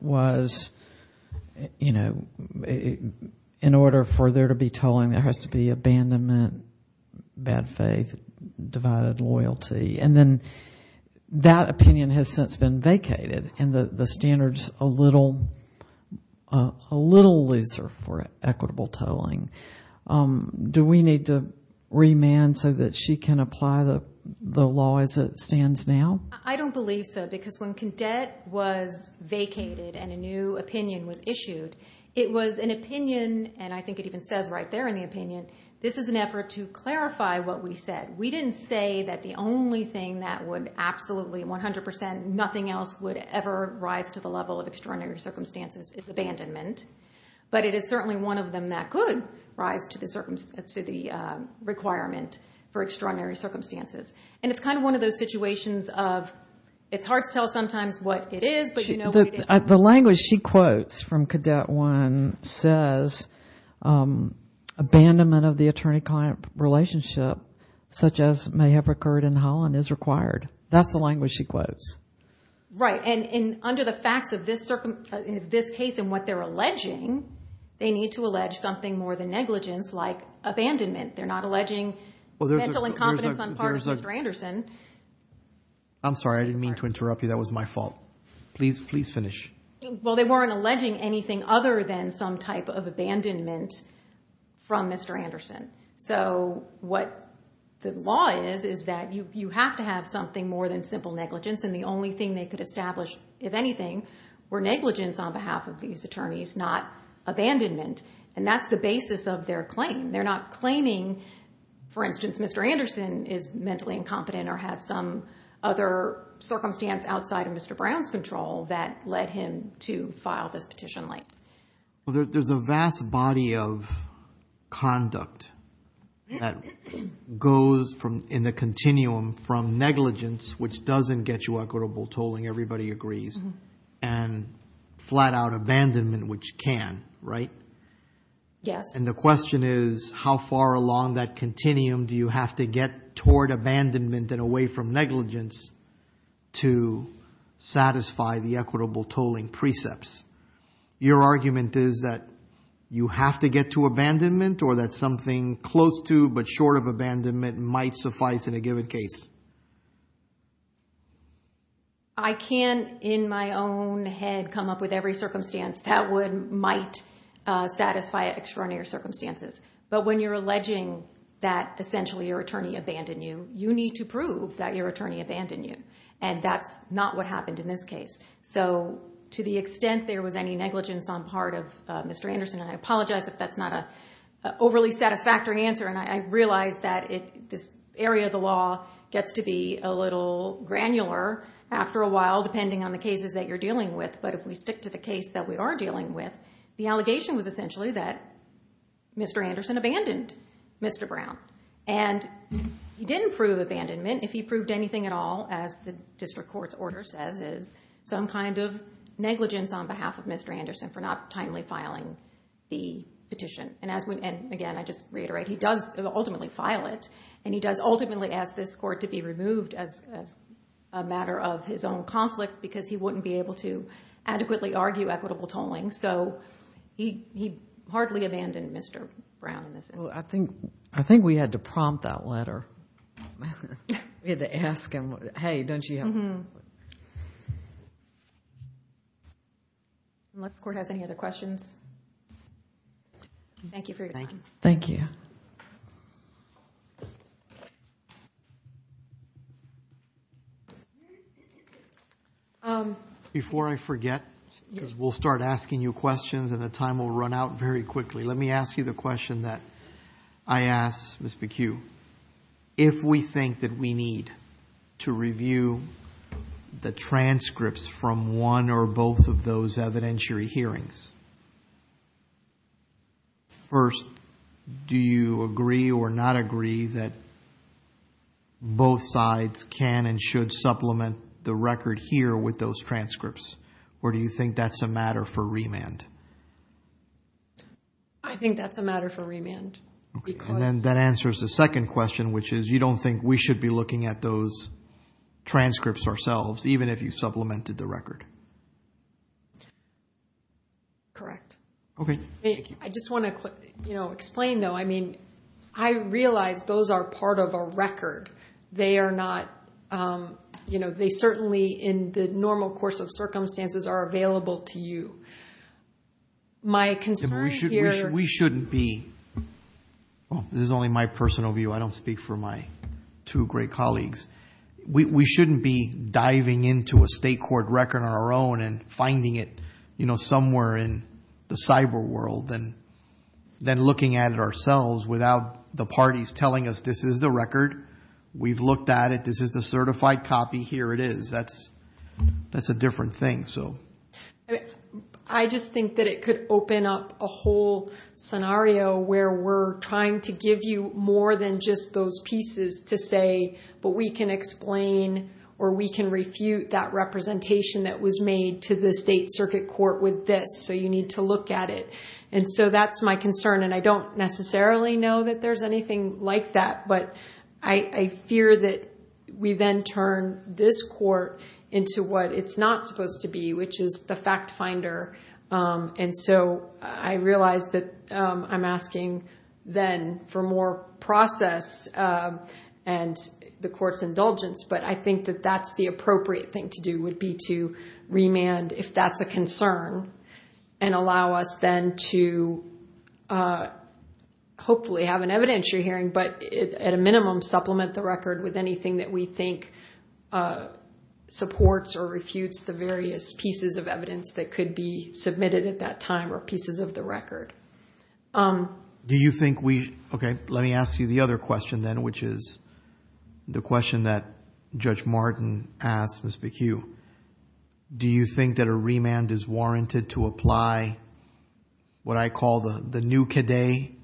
was in order for there to be tolling, there has to be abandonment, bad faith, divided loyalty. And then that opinion has since been vacated and the standard's a little looser for equitable tolling. Do we need to remand so that she can apply the law as it stands now? I don't believe so because when cadet was vacated and a new opinion was issued, it was an opinion, and I think it even says right there in the opinion, this is an effort to clarify what we said. We didn't say that the only thing that would absolutely, 100%, nothing else would ever rise to the level of extraordinary circumstances is abandonment. But it is certainly one of them that could rise to the requirement for extraordinary circumstances. And it's kind of one of those situations of it's hard to tell sometimes what it is, but you know what it is. The language she quotes from cadet one says, abandonment of the attorney-client relationship such as may have occurred in Holland is required. That's the language she quotes. Right, and under the facts of this case and what they're alleging, they need to allege something more than negligence like abandonment. They're not alleging mental incompetence on part of Mr. Anderson. I'm sorry, I didn't mean to interrupt you. That was my fault. Please, please finish. Well, they weren't alleging anything other than some type of abandonment from Mr. Anderson. So what the law is, is that you have to have something more than simple negligence. And the only thing they could establish, if anything, were negligence on behalf of these attorneys, not abandonment. And that's the basis of their claim. They're not claiming, for instance, Mr. Anderson is mentally incompetent or has some other circumstance outside of Mr. Brown's control that led him to file this petition late. Well, there's a vast body of conduct that goes in the continuum from negligence, which doesn't get you equitable tolling, everybody agrees, and flat out abandonment, which can, right? Yes. And the question is, how far along that continuum do you have to get toward abandonment and away from negligence to satisfy the equitable tolling precepts? Your argument is that you have to get to abandonment or that something close to but short of abandonment might suffice in a given case? I can't, in my own head, come up with every circumstance that might satisfy extraordinary circumstances. But when you're alleging that, essentially, your attorney abandoned you, you need to prove that your attorney abandoned you. And that's not what happened in this case. So to the extent there was any negligence on part of Mr. Anderson, and I apologize if that's not an overly satisfactory answer. And I realize that this area of the law gets to be a little granular after a while, depending on the cases that you're dealing with. But if we stick to the case that we are dealing with, the allegation was essentially that Mr. Anderson abandoned Mr. Brown. And he didn't prove abandonment. If he proved anything at all, as the district court's order says, is some kind of negligence on behalf of Mr. Anderson for not timely filing the petition. And again, I just reiterate, he does ultimately file it. And he does ultimately ask this court to be removed as a matter of his own conflict because he wouldn't be able to adequately argue equitable tolling. So he hardly abandoned Mr. Brown in this instance. I think we had to prompt that letter. We had to ask him, hey, don't you have a conflict? Unless the court has any other questions. Thank you for your time. Thank you. Before I forget, because we'll start asking you questions and the time will run out very quickly, let me ask you the question that I asked Ms. McHugh. If we think that we need to review the transcripts from one or both of those evidentiary hearings, first, do you agree or not agree that both sides can and should supplement the record here with those transcripts? Or do you think that's a matter for remand? I think that's a matter for remand. And then that answers the second question, which is you don't think we should be looking at those transcripts ourselves, even if you supplemented the record? Correct. I just want to explain, though. I mean, I realize those are part of a record. They are not, you know, they certainly in the normal course of circumstances are available to you. My concern here is that we shouldn't be diving into a state court record on our own and finding it somewhere in the cyber world and then looking at it ourselves without the parties telling us this is the record. We've looked at it. This is the certified copy. Here it is. That's a different thing. I mean, I just think that it could open up a whole scenario where we're trying to give you more than just those pieces to say, but we can explain or we can refute that representation that was made to the state circuit court with this. So you need to look at it. And so that's my concern. And I don't necessarily know that there's anything like that. But I fear that we then turn this court into what it's not supposed to be, which is the fact finder. And so I realize that I'm asking then for more process and the court's indulgence. But I think that that's the appropriate thing to do would be to remand if that's a concern and allow us then to hopefully have an evidentiary hearing, but at a minimum supplement the record with anything that we think supports or refutes the various pieces of evidence that could be submitted at that time or pieces of the record. Do you think we, OK, let me ask you the other question then, which is the question that Judge Martin asked Ms. McHugh. Do you think that a remand is warranted to apply what I call the new CADE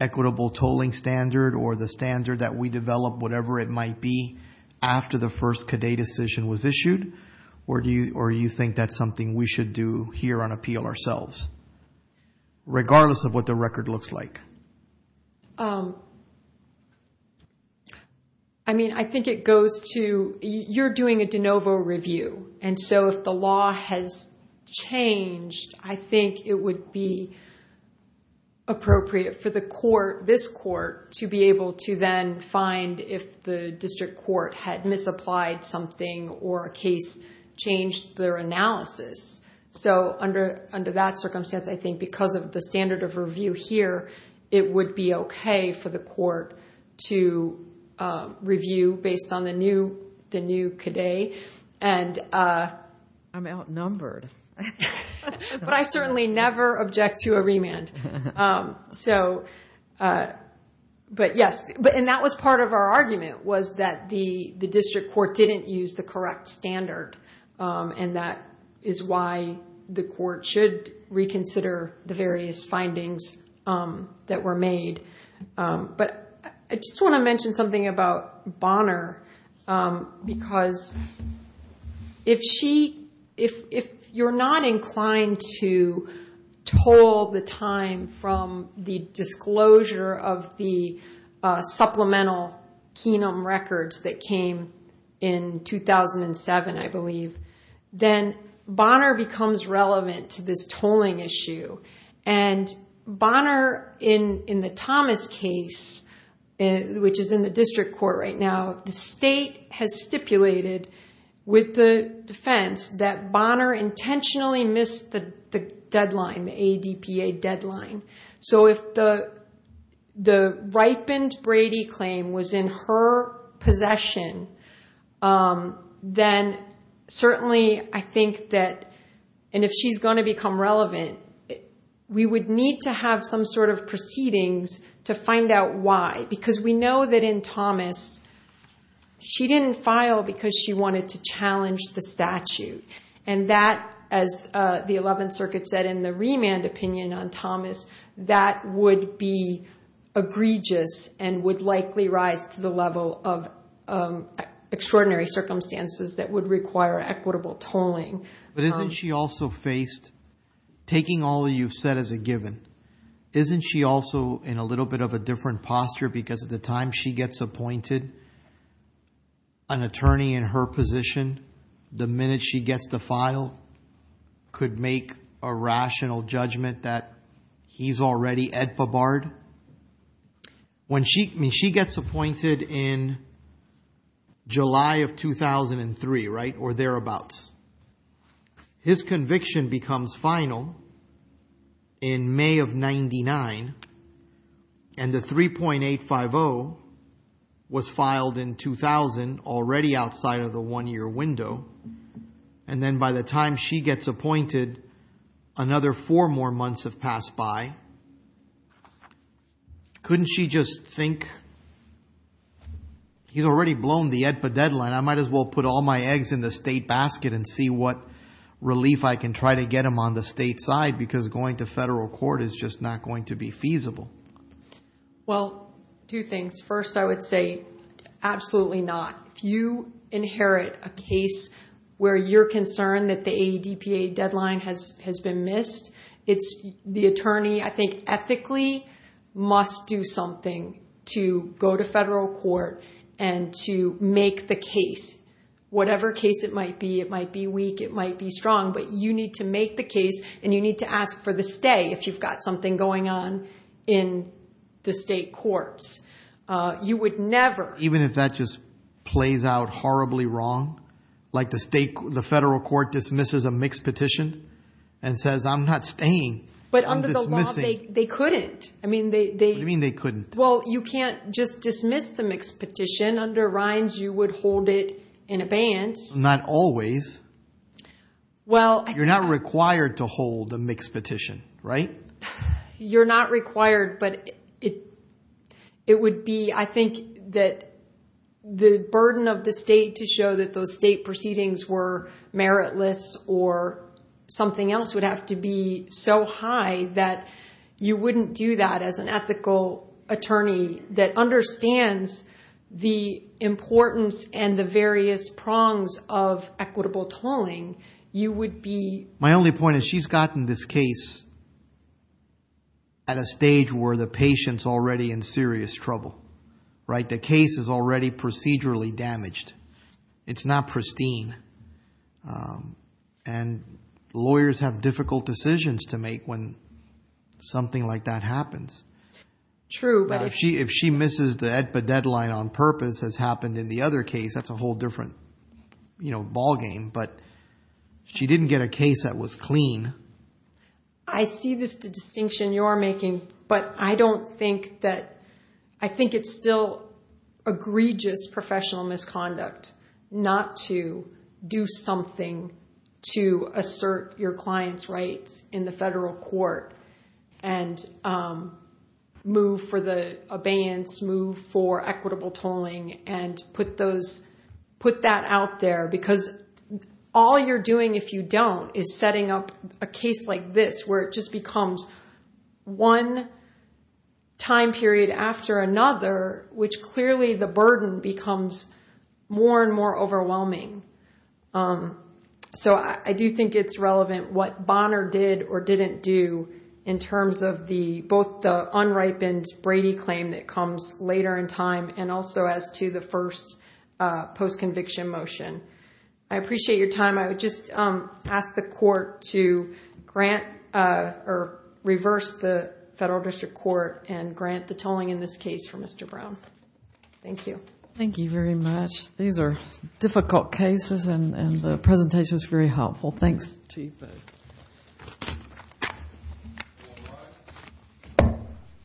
equitable tolling standard or the standard that we develop, whatever it might be, after the first CADE decision was issued? Or do you think that's something we should do here on appeal ourselves, regardless of what the record looks like? I mean, I think it goes to you're doing a de novo review. And so if the law has changed, I think it would be appropriate for the court, this court, to be able to then find if the district court had misapplied something or a case changed their analysis. So under that circumstance, I think because of the standard of review here, it would be OK for the court to review based on the new CADE. And I'm outnumbered. But I certainly never object to a remand. So but yes, and that was part of our argument, was that the district court didn't use the correct standard. And that is why the court should reconsider the various findings that were made. But I just want to mention something about Bonner. Because if you're not inclined to toll the time from the disclosure of the supplemental Kenum records that came in 2007, I believe, then Bonner becomes relevant to this tolling issue. And Bonner in the Thomas case, which is in the district court right now, the state has stipulated with the defense that Bonner intentionally missed the deadline, the ADPA deadline. So if the ripened Brady claim was in her possession, then certainly I think that, and if she's going to become relevant, we would need to have some sort of proceedings to find out why. Because we know that in Thomas, she didn't file because she wanted to challenge the statute. And that, as the 11th Circuit said in the remand opinion on Thomas, that would be egregious and would likely rise to the level of extraordinary circumstances that would require equitable tolling. But isn't she also faced, taking all you've said as a given, isn't she also in a little bit of a different posture because at the time she gets appointed, an attorney in her position, the minute she gets to file, could make a rational judgment that he's already ADPA barred? When she gets appointed in July of 2003 or thereabouts, his conviction becomes final in May of 99. And the 3.850 was filed in 2000, already outside of the one year window. And then by the time she gets appointed, another four more months have passed by. Couldn't she just think, he's already blown the ADPA deadline, I might as well put all my eggs in the state basket and see what relief I can try to get him on the state side because going to federal court is just not going to be feasible? Well, two things. First, I would say absolutely not. If you inherit a case where you're concerned that the ADPA deadline has been missed, the attorney, I think ethically, must do something to go to federal court and to make the case. Whatever case it might be, it might be weak, it might be strong, but you need to make the case and you need to ask for the stay if you've got something going on in the state courts. You would never. Even if that just plays out horribly wrong, like the state, the federal court dismisses a mixed petition and says, I'm not staying, I'm dismissing. But under the law, they couldn't. I mean, they. What do you mean they couldn't? Well, you can't just dismiss the mixed petition. Under Rines, you would hold it in abeyance. Not always. Well, I think. You're not required to hold a mixed petition, right? You're not required, but it would be, I think, that the burden of the state to show that those state proceedings were meritless or something else would have to be so high that you wouldn't do that as an ethical attorney that understands the importance and the various prongs of equitable tolling. You would be. My only point is she's gotten this case at a stage where the patient's already in serious trouble, right? The case is already procedurally damaged. It's not pristine. And lawyers have difficult decisions to make when something like that happens. True, but if she misses the EDPA deadline on purpose has happened in the other case, that's a whole different ball game, but she didn't get a case that was clean. I see this distinction you're making, but I don't think that. I think it's still egregious professional misconduct not to do something to assert your client's rights in the federal court and move for the abeyance, move for equitable tolling, and put that out there. Because all you're doing if you don't is setting up a case like this, where it just becomes one time period after another, which clearly the burden becomes more and more overwhelming. So I do think it's relevant what Bonner did or didn't do in terms of both the unripened Brady claim that comes later in time and also as to the first post-conviction motion. I appreciate your time. I would just ask the court to grant or reverse the federal district court and grant the tolling in this case for Mr. Brown. Thank you. Thank you very much. These are difficult cases, and the presentation is very helpful. Thanks, Chief. Thank you.